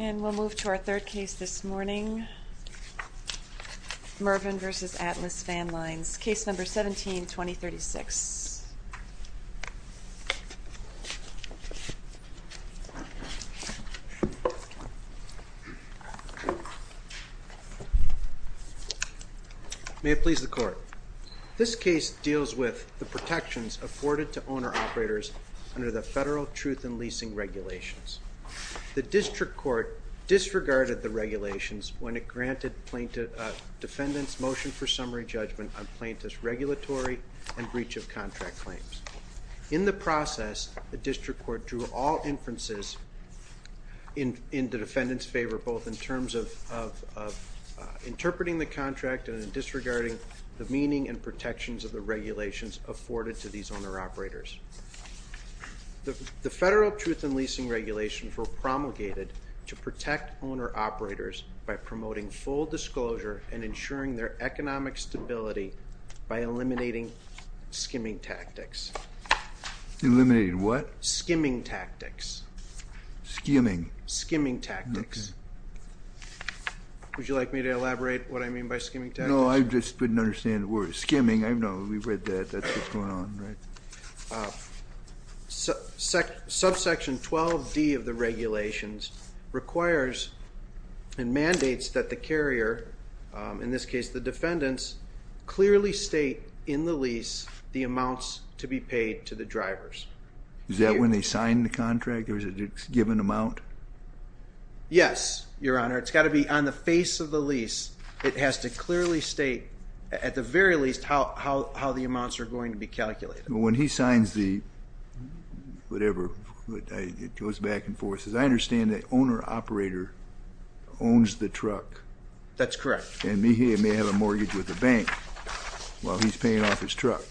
And we'll move to our third case this morning. Mervyn v. Atlas Van Lines, case number 17-2036. May it please the Court. This case deals with the protections afforded to owner-operators under the federal truth in leasing regulations. The district court disregarded the regulations when it granted plaintiff defendants motion for summary judgment on plaintiff's regulatory and breach of contract claims. In the process the district court drew all inferences in the defendant's favor both in terms of interpreting the contract and in disregarding the meaning and protections of the regulations afforded to these owner-operators. The federal truth in leasing regulations were promulgated to protect owner-operators by promoting full disclosure and ensuring their economic stability by eliminating skimming tactics. Eliminated what? Skimming tactics. Skimming. Skimming tactics. Would you like me to elaborate what I mean by skimming tactics? No, I just didn't understand the word skimming. I know we've read that. That's what's going on, right? Subsection 12d of the regulations requires and mandates that the carrier, in this case the defendants, clearly state in the lease the amounts to be paid to the drivers. Is that when they sign the contract or is it a given amount? Yes, your honor. It's got to be on the face of the lease. It has to clearly state, at the very least, how the amounts are going to be calculated. When he signs the whatever, it goes back and forth. I understand the owner-operator owns the truck. That's correct. And he may have a mortgage with the bank while he's paying off his truck.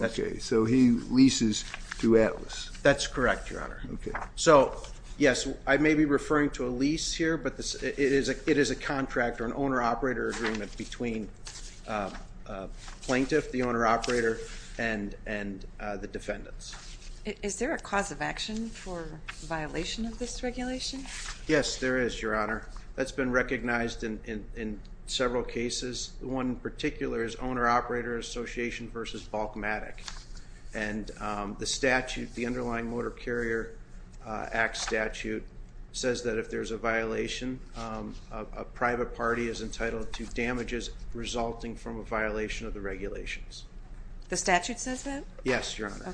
Okay, so he leases to Atlas. That's correct, your honor. So yes, I may be referring to a lease here, but it is a contract or an owner-operator agreement between plaintiff, the owner-operator, and the defendants. Is there a cause of action for violation of this regulation? Yes, there is, your honor. That's been recognized in several cases. One particular is owner-operator association versus bulkmatic. And the statute, the underlying Motor Carrier Act statute, says that if there's a violation, a private party is entitled to damages resulting from a violation of the regulations. The statute says that? Yes, your honor.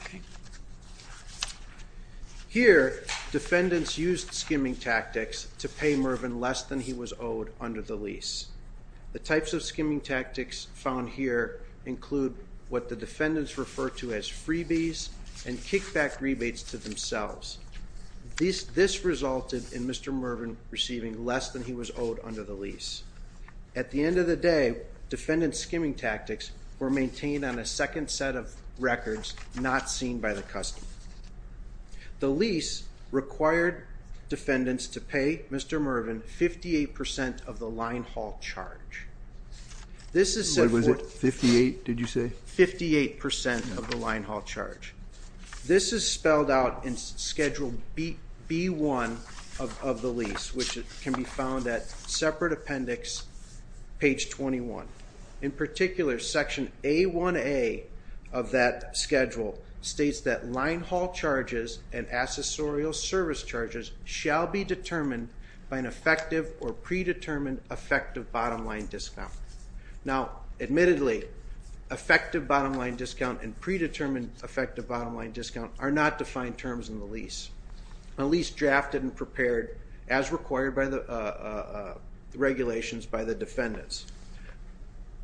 Here, defendants used skimming tactics to pay Mervyn less than he was owed under the lease. The types of skimming tactics found here include what the defendants refer to as freebies and kickback rebates to themselves. This resulted in Mr. Mervyn receiving less than he was owed under the lease. At the end of the day, defendant skimming tactics were maintained on a second set of records not seen by the customer. The lease required defendants to pay Mr. Mervyn 58% of the line haul charge. What was it? 58, did you say? 58% of the line haul charge. This is spelled out in Schedule B1 of the lease, which can be found at separate appendix, page 21. In particular, Section A1A of that schedule states that line haul charges and accessorial service charges shall be determined by an effective or predetermined effective bottom line discount. Now, admittedly, effective bottom line discount and predetermined effective bottom line discount are not defined terms in the lease. A lease drafted and prepared as required by the regulations by the defendants.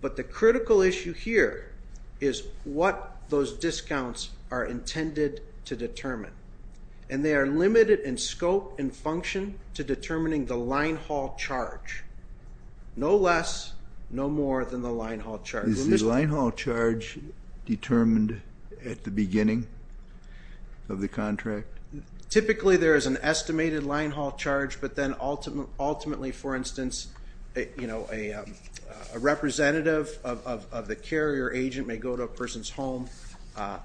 But the critical issue here is what those discounts are intended to determine. And they are limited in scope and function to determining the line haul charge. No less, no more than the line haul charge. Is the line haul charge determined at the beginning of the contract? Typically there is an estimated line haul charge, but then ultimately, for instance, a representative of the carrier agent may go to a person's home,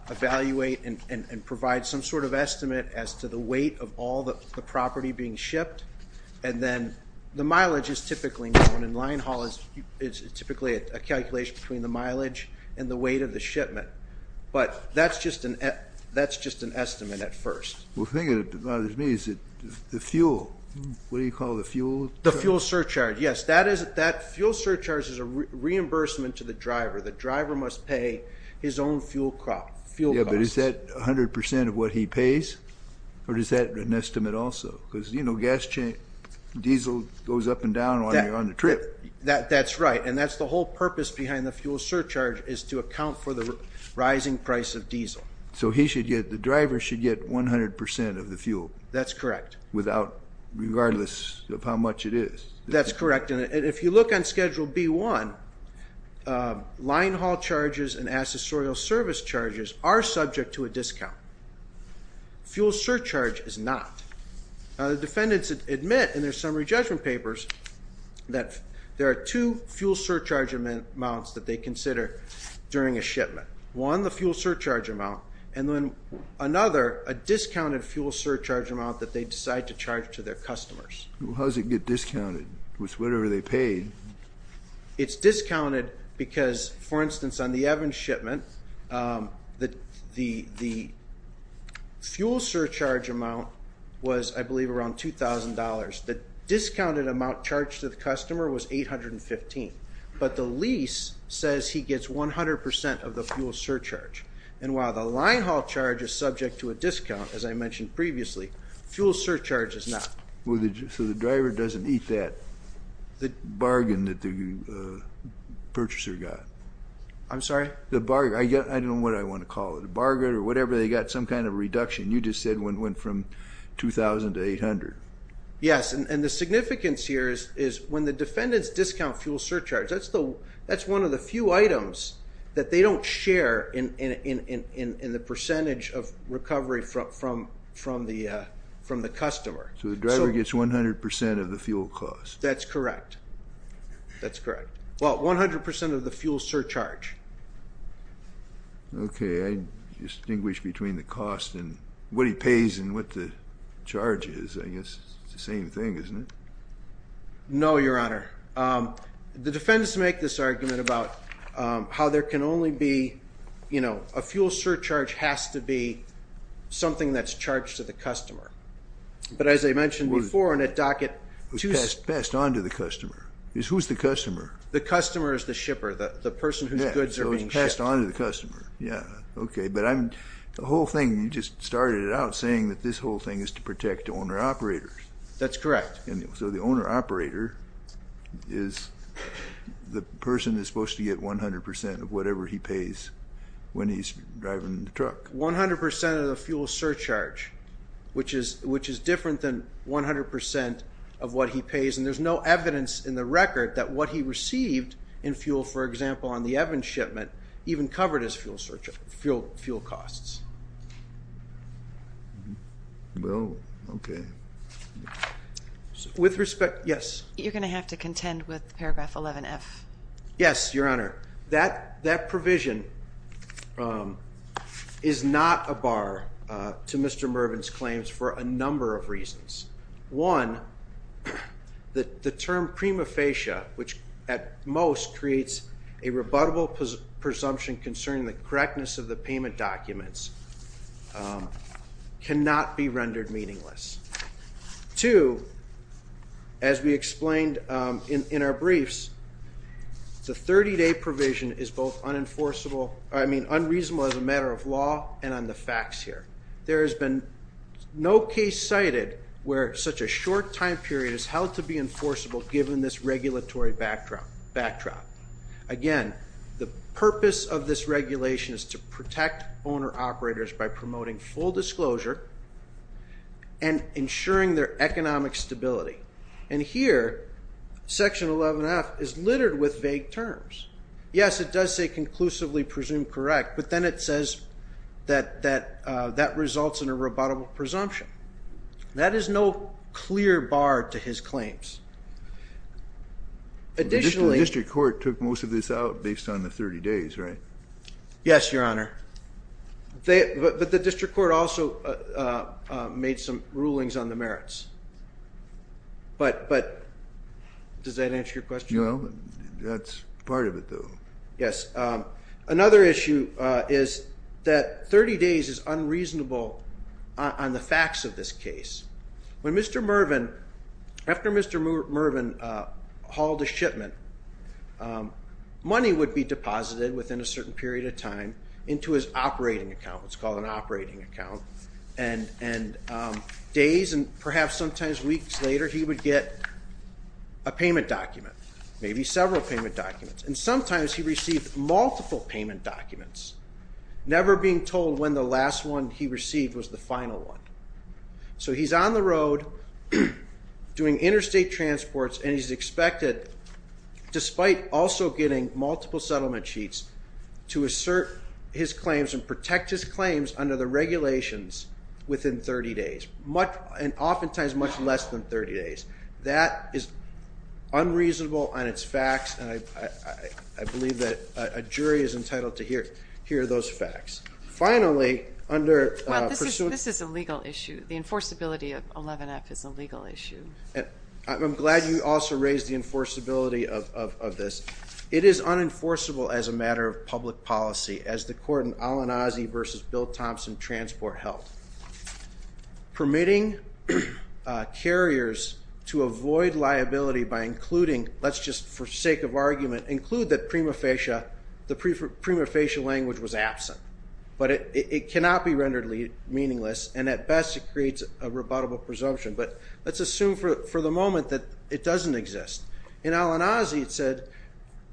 evaluate, and provide some sort of estimate as to the weight of all the property being shipped. And then the calculation between the mileage and the weight of the shipment. But that's just an estimate at first. Well, the thing that bothers me is the fuel. What do you call the fuel? The fuel surcharge, yes. That fuel surcharge is a reimbursement to the driver. The driver must pay his own fuel cost. Yeah, but is that 100% of what he pays? Or is that an estimate also? Because, you know, diesel goes up and down while you're on the trip. That's right. And that's the whole purpose behind the fuel surcharge is to account for the rising price of diesel. So he should get, the driver should get 100% of the fuel. That's correct. Without, regardless of how much it is. That's correct. And if you look on Schedule B-1, line haul charges and accessorial service charges are subject to a discount. Fuel surcharge is not. The defendants admit in their summary judgment papers that there are two fuel surcharge amounts that they consider during a shipment. One, the fuel surcharge amount, and then another, a discounted fuel surcharge amount that they decide to charge to their customers. How does it get discounted? It's whatever they paid. It's discounted because, for instance, on the Evans shipment, the fuel surcharge amount was, I believe, around $2,000. The discounted amount charged to the customer was $815,000. But the lease says he gets 100% of the fuel surcharge. And while the line haul charge is subject to a discount, as I mentioned previously, fuel surcharge is not. Well, so the driver doesn't eat that bargain that the purchaser got? I'm sorry? The bargain. I don't know what I want to call it. A bargain or whatever. They got some kind of reduction. You just said it went from $2,000 to $800. Yes. And the significance here is when the defendants discount fuel surcharge, that's one of the few items that they don't share in the percentage of recovery from the customer. So the driver gets 100% of the fuel cost? That's correct. That's correct. Well, 100% of the fuel surcharge. Okay. I distinguish between the cost and what he pays and what the charge is. I guess it's the same thing, isn't it? No, Your Honor. The defendants make this argument about how there can only be, you know, a fuel surcharge has to be something that's charged to the customer. But as I mentioned before, in a docket, Who's passed on to the customer. Who's the customer? The customer is the shipper. The person whose goods are being shipped. Passed on to the customer. Yeah. Okay. But the whole thing, you just started it out saying that this whole thing is to protect the owner-operator. That's correct. So the owner-operator is the person that's supposed to get 100% of whatever he pays when he's driving the truck. 100% of the fuel surcharge, which is different than 100% of what he pays. And there's no in fuel, for example, on the Evans shipment, even covered as fuel costs. Well, okay. With respect, yes. You're going to have to contend with paragraph 11F. Yes, Your Honor. That provision is not a bar to Mr. Mervin's claims for a number of reasons. One, the term prima facie, which at most creates a rebuttable presumption concerning the correctness of the payment documents, cannot be rendered meaningless. Two, as we explained in our briefs, the 30-day provision is both unreasonable as a matter of law and on the facts here. There has been no case cited where such a short time period is held to be enforceable given this regulatory backdrop. Again, the purpose of this regulation is to protect owner-operators by promoting full disclosure and ensuring their economic stability. And here, section 11F is littered with vague terms. Yes, it does say conclusively presumed correct. But then it says that that results in a rebuttable presumption. That is no clear bar to his claims. Additionally... The district court took most of this out based on the 30 days, right? Yes, Your Honor. But the district court also made some rulings on the merits. But does that answer your question? That's part of it, though. Yes. Another issue is that 30 days is unreasonable on the facts of this case. When Mr. Mervin, after Mr. Mervin hauled a shipment, money would be deposited within a certain period of time into his operating account. It's called an operating account. And days and perhaps sometimes weeks later, he would get a payment document. Maybe several payment documents. And sometimes he received multiple payment documents, never being told when the last one he received was the final one. So he's on the road doing interstate transports, and he's expected, despite also getting multiple settlement sheets, to assert his claims and protect his claims under the regulations within 30 days, and oftentimes much less than 30 days. That is unreasonable on its facts, and I believe that a jury is entitled to hear those facts. Finally, under pursuant- Well, this is a legal issue. The enforceability of 11F is a legal issue. I'm glad you also raised the enforceability of this. It is unenforceable as a matter of public policy, as the court in Al-Anazi versus Bill Thompson Transport held. Permitting carriers to avoid liability by including- let's just, for sake of argument, include that prima facie, the prima facie language was absent. But it cannot be rendered meaningless, and at best, it creates a rebuttable presumption. But let's assume for the moment that it doesn't exist. In Al-Anazi, it said,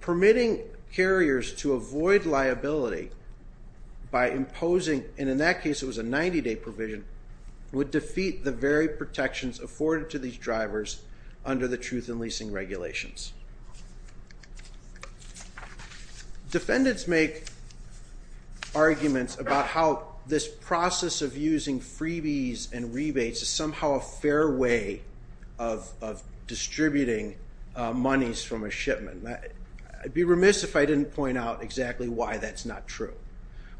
permitting carriers to avoid liability by imposing- and in that case, it was a 90-day provision- would defeat the very protections afforded to these drivers under the truth in leasing regulations. Defendants make arguments about how this process of using freebies and rebates is somehow a fair way of distributing monies from a shipment. I'd be remiss if I didn't point out exactly why that's not true.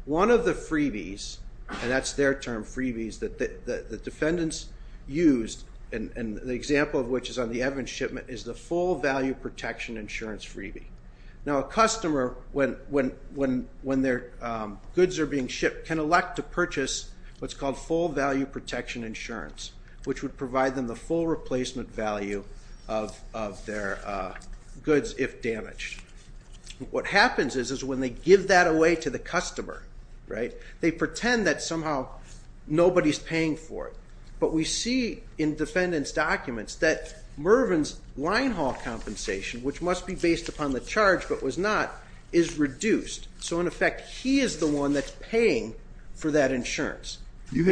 One of the freebies, and that's their term, freebies, that the defendants used, and the example of which is on the Evans shipment, is the full value protection insurance freebie. Now, a customer, when their goods are being shipped, can elect to purchase what's called full value protection insurance, which would provide them the full replacement value of their goods if damaged. What happens is, is when they give that away to the customer, they pretend that somehow nobody's paying for it. But we see in defendants' documents that Mervyn's line haul compensation, which must be based upon the charge but was not, is reduced. So in effect, he is the one that's paying for that insurance. You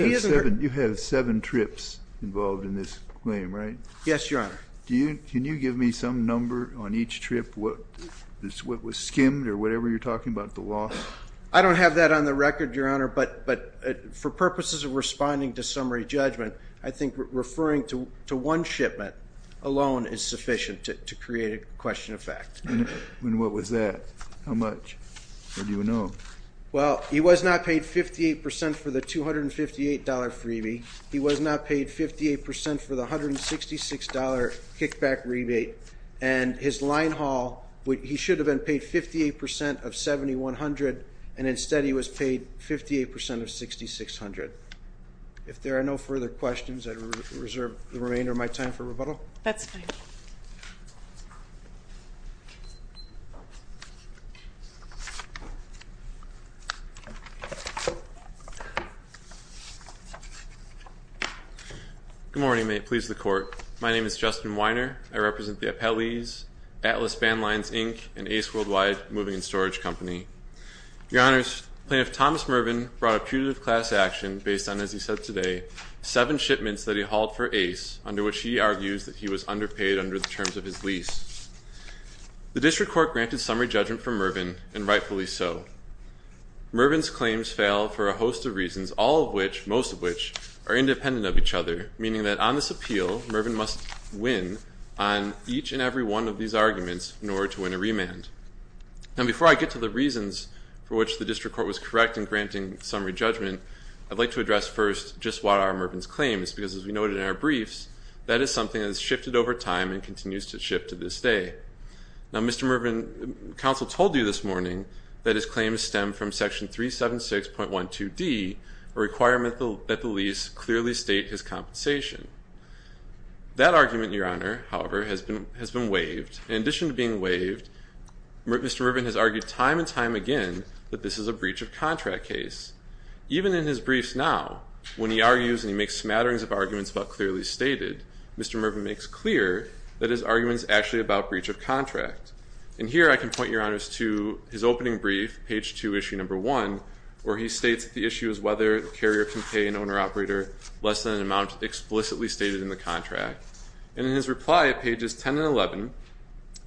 have seven trips involved in this claim, right? Yes, Your Honor. Can you give me some number on each trip, what was skimmed or whatever you're talking about, the loss? I don't have that on the record, Your Honor. But for purposes of responding to summary judgment, I think referring to one shipment alone is sufficient to create a question of fact. And what was that? How much? What do you know? Well, he was not paid 58% for the $258 freebie. He was not paid 58% for the $166 kickback rebate. And his line haul, he should have been paid 58% of $7,100, and instead he was paid 58% of $6,600. If there are no further questions, I reserve the remainder of my time for rebuttal. That's fine. Good morning, mate. Please the court. My name is Justin Weiner. I represent the Appellees, Atlas Bandlines, Inc., and Ace Worldwide Moving and Storage Company. Your Honors, Plaintiff Thomas Mervin brought a putative class action based on, as he said today, seven shipments that he hauled for Ace, under which he argues that he was underpaid under the terms of his lease. The district court granted summary judgment for Mervin, and rightfully so. Mervin's claims fail for a host of reasons, all of which, most of which, are independent of each other, meaning that on this appeal, Mervin must win on each and every one of these arguments in order to win a remand. Now, before I get to the reasons for which the district court was correct in granting summary judgment, I'd like to address first just what are Mervin's claims, because as we noted in our briefs, that is something that has shifted over time and continues to shift to this day. Now, Mr. Mervin, counsel told you this morning that his claims stem from Section 376.12d, a requirement that the lease clearly state his compensation. That argument, Your Honor, however, has been waived. In addition to being waived, Mr. Mervin has argued time and time again that this is a breach of contract case. Even in his briefs now, when he argues and he makes smatterings of arguments about clearly And here I can point, Your Honors, to his opening brief, page two, issue number one, where he states that the issue is whether the carrier can pay an owner-operator less than an amount explicitly stated in the contract. And in his reply at pages 10 and 11,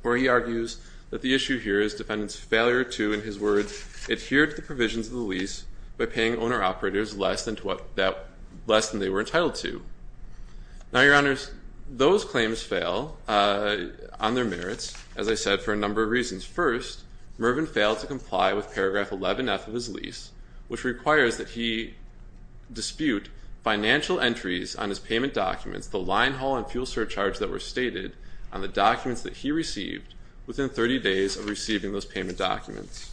where he argues that the issue here is defendant's failure to, in his words, adhere to the provisions of the lease by paying owner-operators less than they were entitled to. Now, Your Honors, those claims fail on their merits, as I said, for a number of reasons. First, Mervin failed to comply with paragraph 11F of his lease, which requires that he dispute financial entries on his payment documents, the line haul and fuel surcharge that were stated on the documents that he received, within 30 days of receiving those payment documents.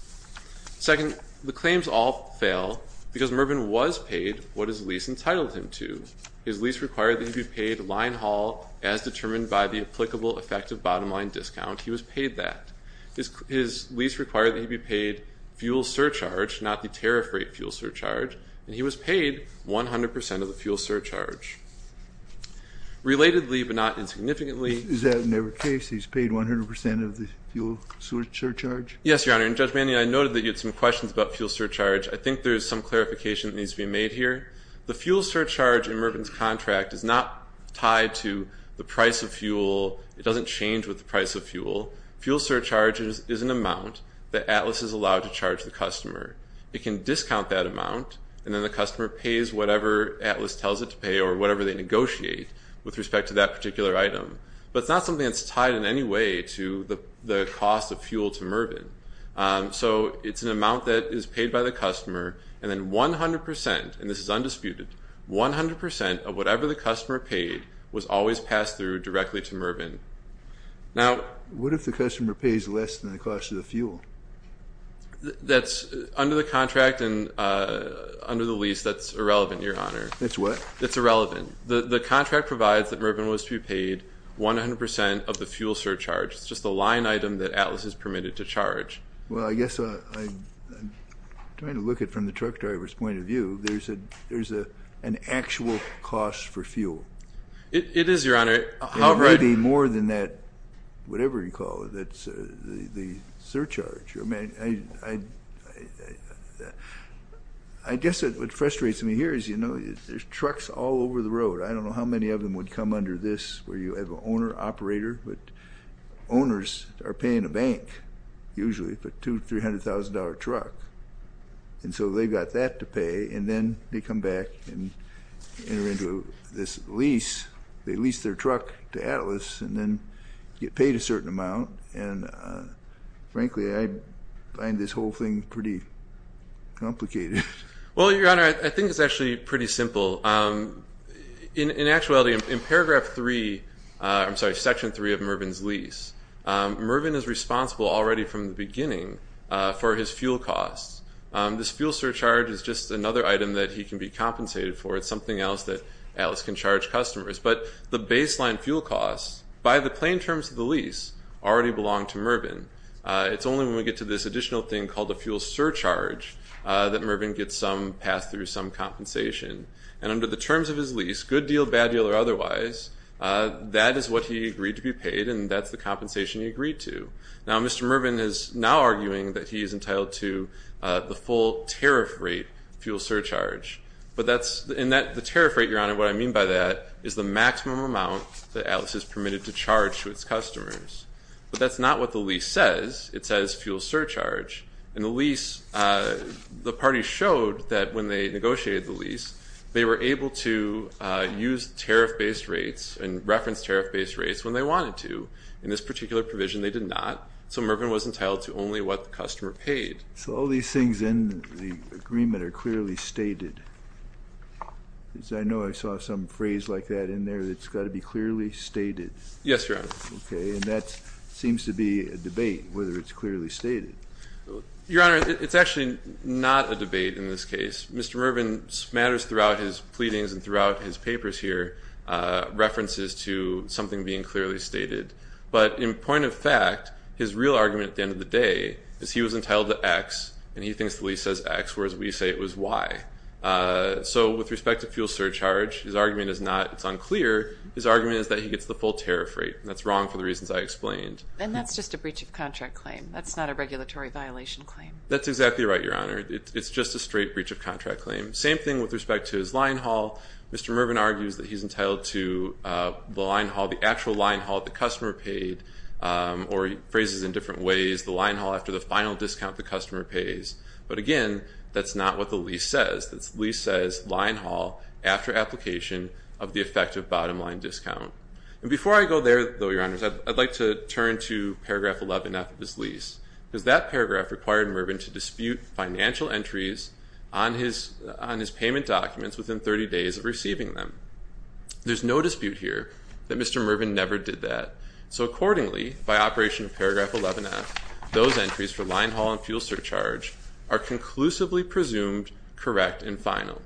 Second, the claims all fail because Mervin was paid what his lease entitled him to. His lease required that he be paid line haul as determined by the applicable effective bottom line discount. He was paid that. His lease required that he be paid fuel surcharge, not the tariff rate fuel surcharge. And he was paid 100% of the fuel surcharge. Relatedly, but not insignificantly, Is that never the case? He's paid 100% of the fuel surcharge? Yes, Your Honor. And Judge Manning, I noted that you had some questions about fuel surcharge. I think there is some clarification that needs to be made here. The fuel surcharge in Mervin's contract is not tied to the price of fuel. It doesn't change with the price of fuel. Fuel surcharge is an amount that Atlas is allowed to charge the customer. It can discount that amount, and then the customer pays whatever Atlas tells it to pay or whatever they negotiate with respect to that particular item. But it's not something that's tied in any way to the cost of fuel to Mervin. So it's an amount that is paid by the customer. And then 100%, and this is undisputed, 100% of whatever the customer paid was always passed through directly to Mervin. Now, what if the customer pays less than the cost of the fuel? That's under the contract and under the lease. That's irrelevant, Your Honor. It's what? It's irrelevant. The contract provides that Mervin was to be paid 100% of the fuel surcharge. It's just a line item that Atlas is permitted to charge. Well, I guess I'm trying to look at it from the truck driver's point of view. There's an actual cost for fuel. It is, Your Honor. It might be more than that, whatever you call it. That's the surcharge. I guess what frustrates me here is there's trucks all over the road. I don't know how many of them would come under this where you have an owner operator, but owners are paying a bank, usually, for a $200,000, $300,000 truck. And so they've got that to pay, and then they come back and enter into this lease. They lease their truck to Atlas and then get paid a certain amount. And frankly, I find this whole thing pretty complicated. Well, Your Honor, I think it's actually pretty simple. In actuality, in paragraph three, I'm sorry, section three of Mervin's lease, Mervin is responsible already from the beginning for his fuel costs. This fuel surcharge is just another item that he can be compensated for. It's something else that Atlas can charge customers. But the baseline fuel costs, by the plain terms of the lease, already belong to Mervin. It's only when we get to this additional thing called a fuel surcharge that Mervin gets some pass through, some compensation. And under the terms of his lease, good deal, bad deal, or otherwise, that is what he agreed to be paid, and that's the compensation he agreed to. Now, Mr. Mervin is now arguing that he is entitled to the full tariff rate fuel surcharge. But the tariff rate, Your Honor, what I mean by that is the maximum amount that Atlas is permitted to charge to its customers. But that's not what the lease says. It says fuel surcharge. And the lease, the party showed that when they negotiated the lease, they were able to use tariff-based rates and reference tariff-based rates when they wanted to. In this particular provision, they did not. So Mervin was entitled to only what the customer paid. So all these things in the agreement are clearly stated. Because I know I saw some phrase like that in there that's got to be clearly stated. Yes, Your Honor. Okay. And that seems to be a debate, whether it's clearly stated. Your Honor, it's actually not a debate in this case. Mr. Mervin's matters throughout his pleadings and throughout his papers here, references to something being clearly stated. But in point of fact, his real argument at the end of the day is he was entitled to X, and he thinks the lease says X, whereas we say it was Y. So with respect to fuel surcharge, his argument is not it's unclear. His argument is that he gets the full tariff rate. That's wrong for the reasons I explained. And that's just a breach of contract claim. That's not a regulatory violation claim. That's exactly right, Your Honor. It's just a straight breach of contract claim. Same thing with respect to his line haul. Mr. Mervin argues that he's entitled to the line haul, the actual line haul the customer paid, or phrases in different ways, the line haul after the final discount the customer pays. But again, that's not what the lease says. The lease says line haul after application of the effective bottom line discount. And before I go there, though, Your Honors, I'd like to turn to paragraph 11-F of his lease, because that paragraph required Mervin to dispute financial entries on his payment documents within 30 days of receiving them. There's no dispute here that Mr. Mervin never did that. So accordingly, by operation of paragraph 11-F, those entries for line haul and fuel surcharge are conclusively presumed correct and final.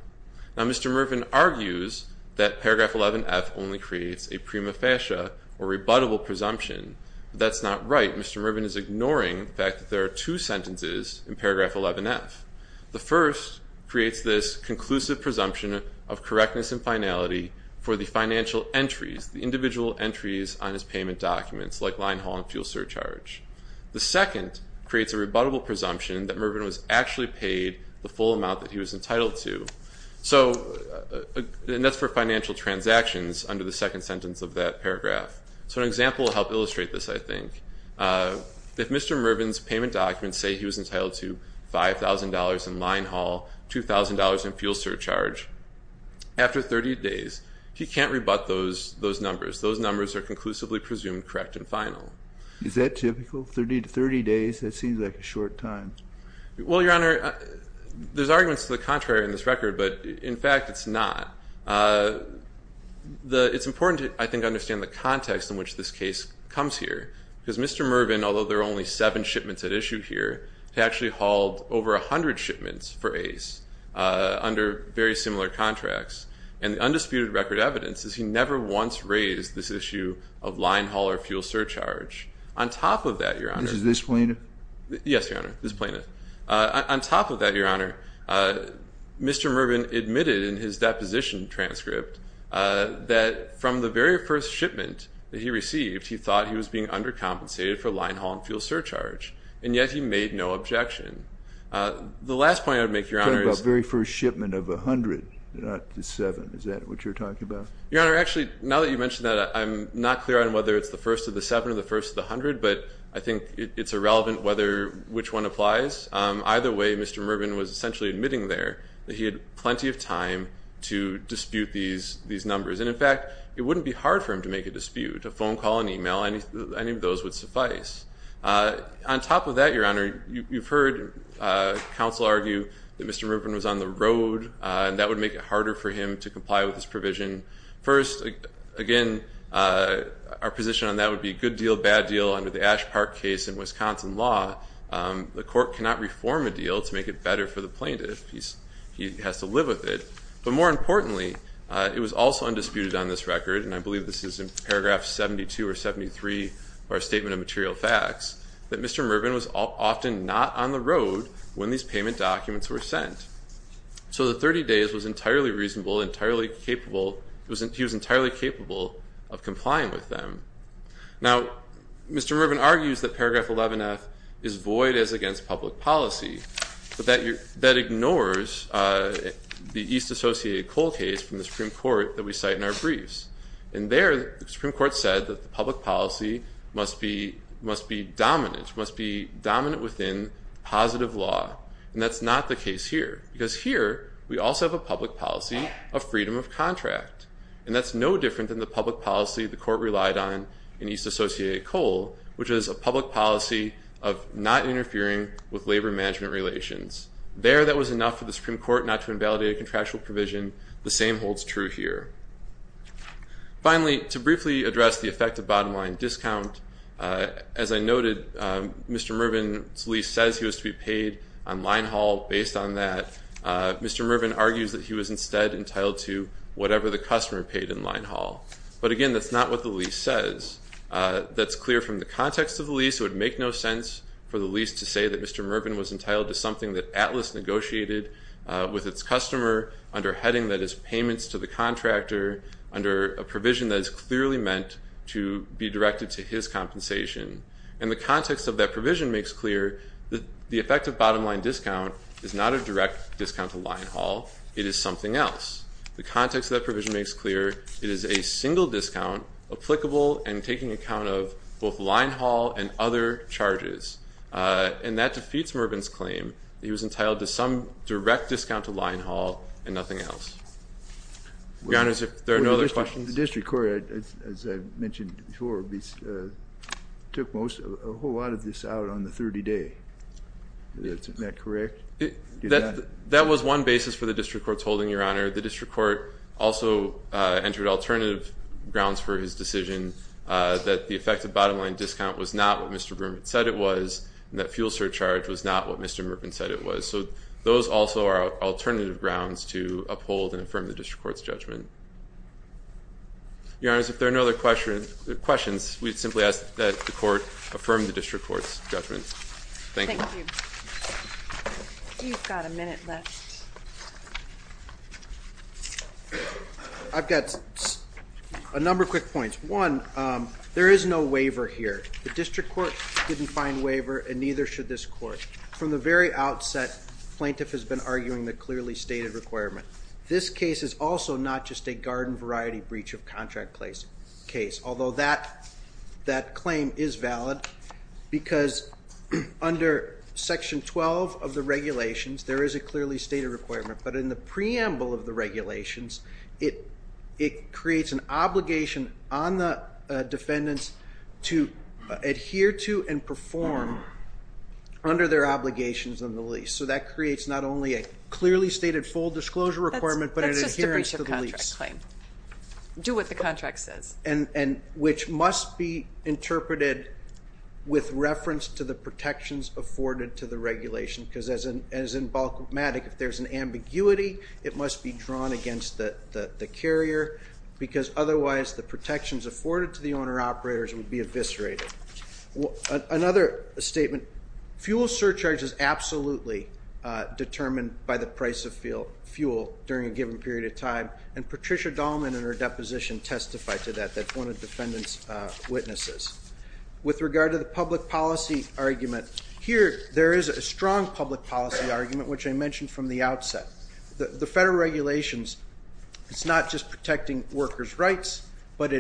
Now, Mr. Mervin argues that paragraph 11-F only creates a prima facie or rebuttable presumption. That's not right. Mr. Mervin is ignoring the fact that there are two sentences in paragraph 11-F. The first creates this conclusive presumption of correctness and finality for the financial entries, the individual entries on his payment documents, like line haul and fuel surcharge. The second creates a rebuttable presumption that Mervin was actually paid the full amount that he was entitled to. So, and that's for financial transactions under the second sentence of that paragraph. So an example will help illustrate this, I think. If Mr. Mervin's payment documents say he was entitled to $5,000 in line haul, $2,000 in fuel surcharge, after 30 days, he can't rebut those numbers. Those numbers are conclusively presumed correct and final. Is that typical? 30 days? That seems like a short time. Well, Your Honor, there's arguments to the contrary in this record. But in fact, it's not. It's important to, I think, understand the context in which this case comes here. Because Mr. Mervin, although there are only seven shipments at issue here, he actually hauled over 100 shipments for Ace under very similar contracts. And the undisputed record evidence is he never once raised this issue of line haul or fuel surcharge. On top of that, Your Honor. Is this plaintiff? Yes, Your Honor. This plaintiff. On top of that, Your Honor, Mr. Mervin admitted in his deposition transcript that from the very first shipment that he received, he thought he was being undercompensated for line haul and fuel surcharge. And yet he made no objection. The last point I would make, Your Honor, is- Talking about very first shipment of 100, not the seven. Is that what you're talking about? Your Honor, actually, now that you mention that, I'm not clear on whether it's the first of the seven or the first of the 100. But I think it's irrelevant which one applies. Either way, Mr. Mervin was essentially admitting there that he had plenty of time to dispute these numbers. And in fact, it wouldn't be hard for him to make a dispute. A phone call, an email, any of those would suffice. On top of that, Your Honor, you've heard counsel argue that Mr. Mervin was on the road. First, again, our position on that would be good deal, bad deal. Under the Ash Park case in Wisconsin law, the court cannot reform a deal to make it better for the plaintiff. He has to live with it. But more importantly, it was also undisputed on this record, and I believe this is in paragraph 72 or 73 of our statement of material facts, that Mr. Mervin was often not on the road when these payment documents were sent. So the 30 days was entirely reasonable, entirely capable, he was entirely capable of complying with them. Now, Mr. Mervin argues that paragraph 11F is void as against public policy. But that ignores the East Associated Coal case from the Supreme Court that we cite in our briefs. And there, the Supreme Court said that the public policy must be dominant, must be dominant within positive law. And that's not the case here, because here, we also have a public policy of freedom of contract. And that's no different than the public policy the court relied on in East Associated Coal, which is a public policy of not interfering with labor management relations. There, that was enough for the Supreme Court not to invalidate a contractual provision. The same holds true here. Finally, to briefly address the effect of bottom line discount, as I noted, Mr. Mervin's request to be paid on line haul, based on that, Mr. Mervin argues that he was instead entitled to whatever the customer paid in line haul. But again, that's not what the lease says. That's clear from the context of the lease. It would make no sense for the lease to say that Mr. Mervin was entitled to something that Atlas negotiated with its customer under a heading that is payments to the contractor under a provision that is clearly meant to be directed to his compensation. And the context of that provision makes clear that the effect of bottom line discount is not a direct discount to line haul. It is something else. The context of that provision makes clear it is a single discount applicable and taking account of both line haul and other charges. And that defeats Mervin's claim that he was entitled to some direct discount to line haul and nothing else. Your Honors, if there are no other questions. The District Court, as I mentioned before, took a whole lot of this out on the 30-day. Isn't that correct? That was one basis for the District Court's holding, Your Honor. The District Court also entered alternative grounds for his decision that the effect of bottom line discount was not what Mr. Mervin said it was, and that fuel surcharge was not what Mr. Mervin said it was. So those also are alternative grounds to uphold and affirm the District Court's judgment. Your Honors, if there are no other questions, we simply ask that the Court affirm the District Court's judgment. Thank you. You've got a minute left. I've got a number of quick points. One, there is no waiver here. The District Court didn't find waiver, and neither should this Court. From the very outset, plaintiff has been arguing the clearly stated requirement. This case is also not just a garden variety breach of contract case, although that claim is valid because under Section 12 of the regulations, there is a clearly stated requirement. But in the preamble of the regulations, it creates an obligation on the defendants to adhere to and perform under their obligations on the lease. So that creates not only a clearly stated full disclosure requirement, but an adherence to the lease. That's just a breach of contract claim. Do what the contract says. Which must be interpreted with reference to the protections afforded to the regulation, because as in Balcomatic, if there's an ambiguity, it must be drawn against the carrier, because otherwise the protections afforded to the owner operators would be eviscerated. Another statement, fuel surcharge is absolutely determined by the price of fuel during a given period of time. And Patricia Dahlman in her deposition testified to that. That's one of the defendant's witnesses. With regard to the public policy argument, here there is a strong public policy argument, which I mentioned from the outset. The federal regulations, it's not just protecting workers' rights, but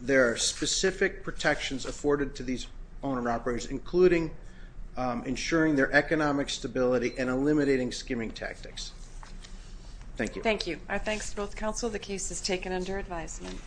there are specific protections afforded to these owner operators, including ensuring their economic stability and eliminating skimming tactics. Thank you. Thank you. Our thanks to both counsel. The case is taken under advisement.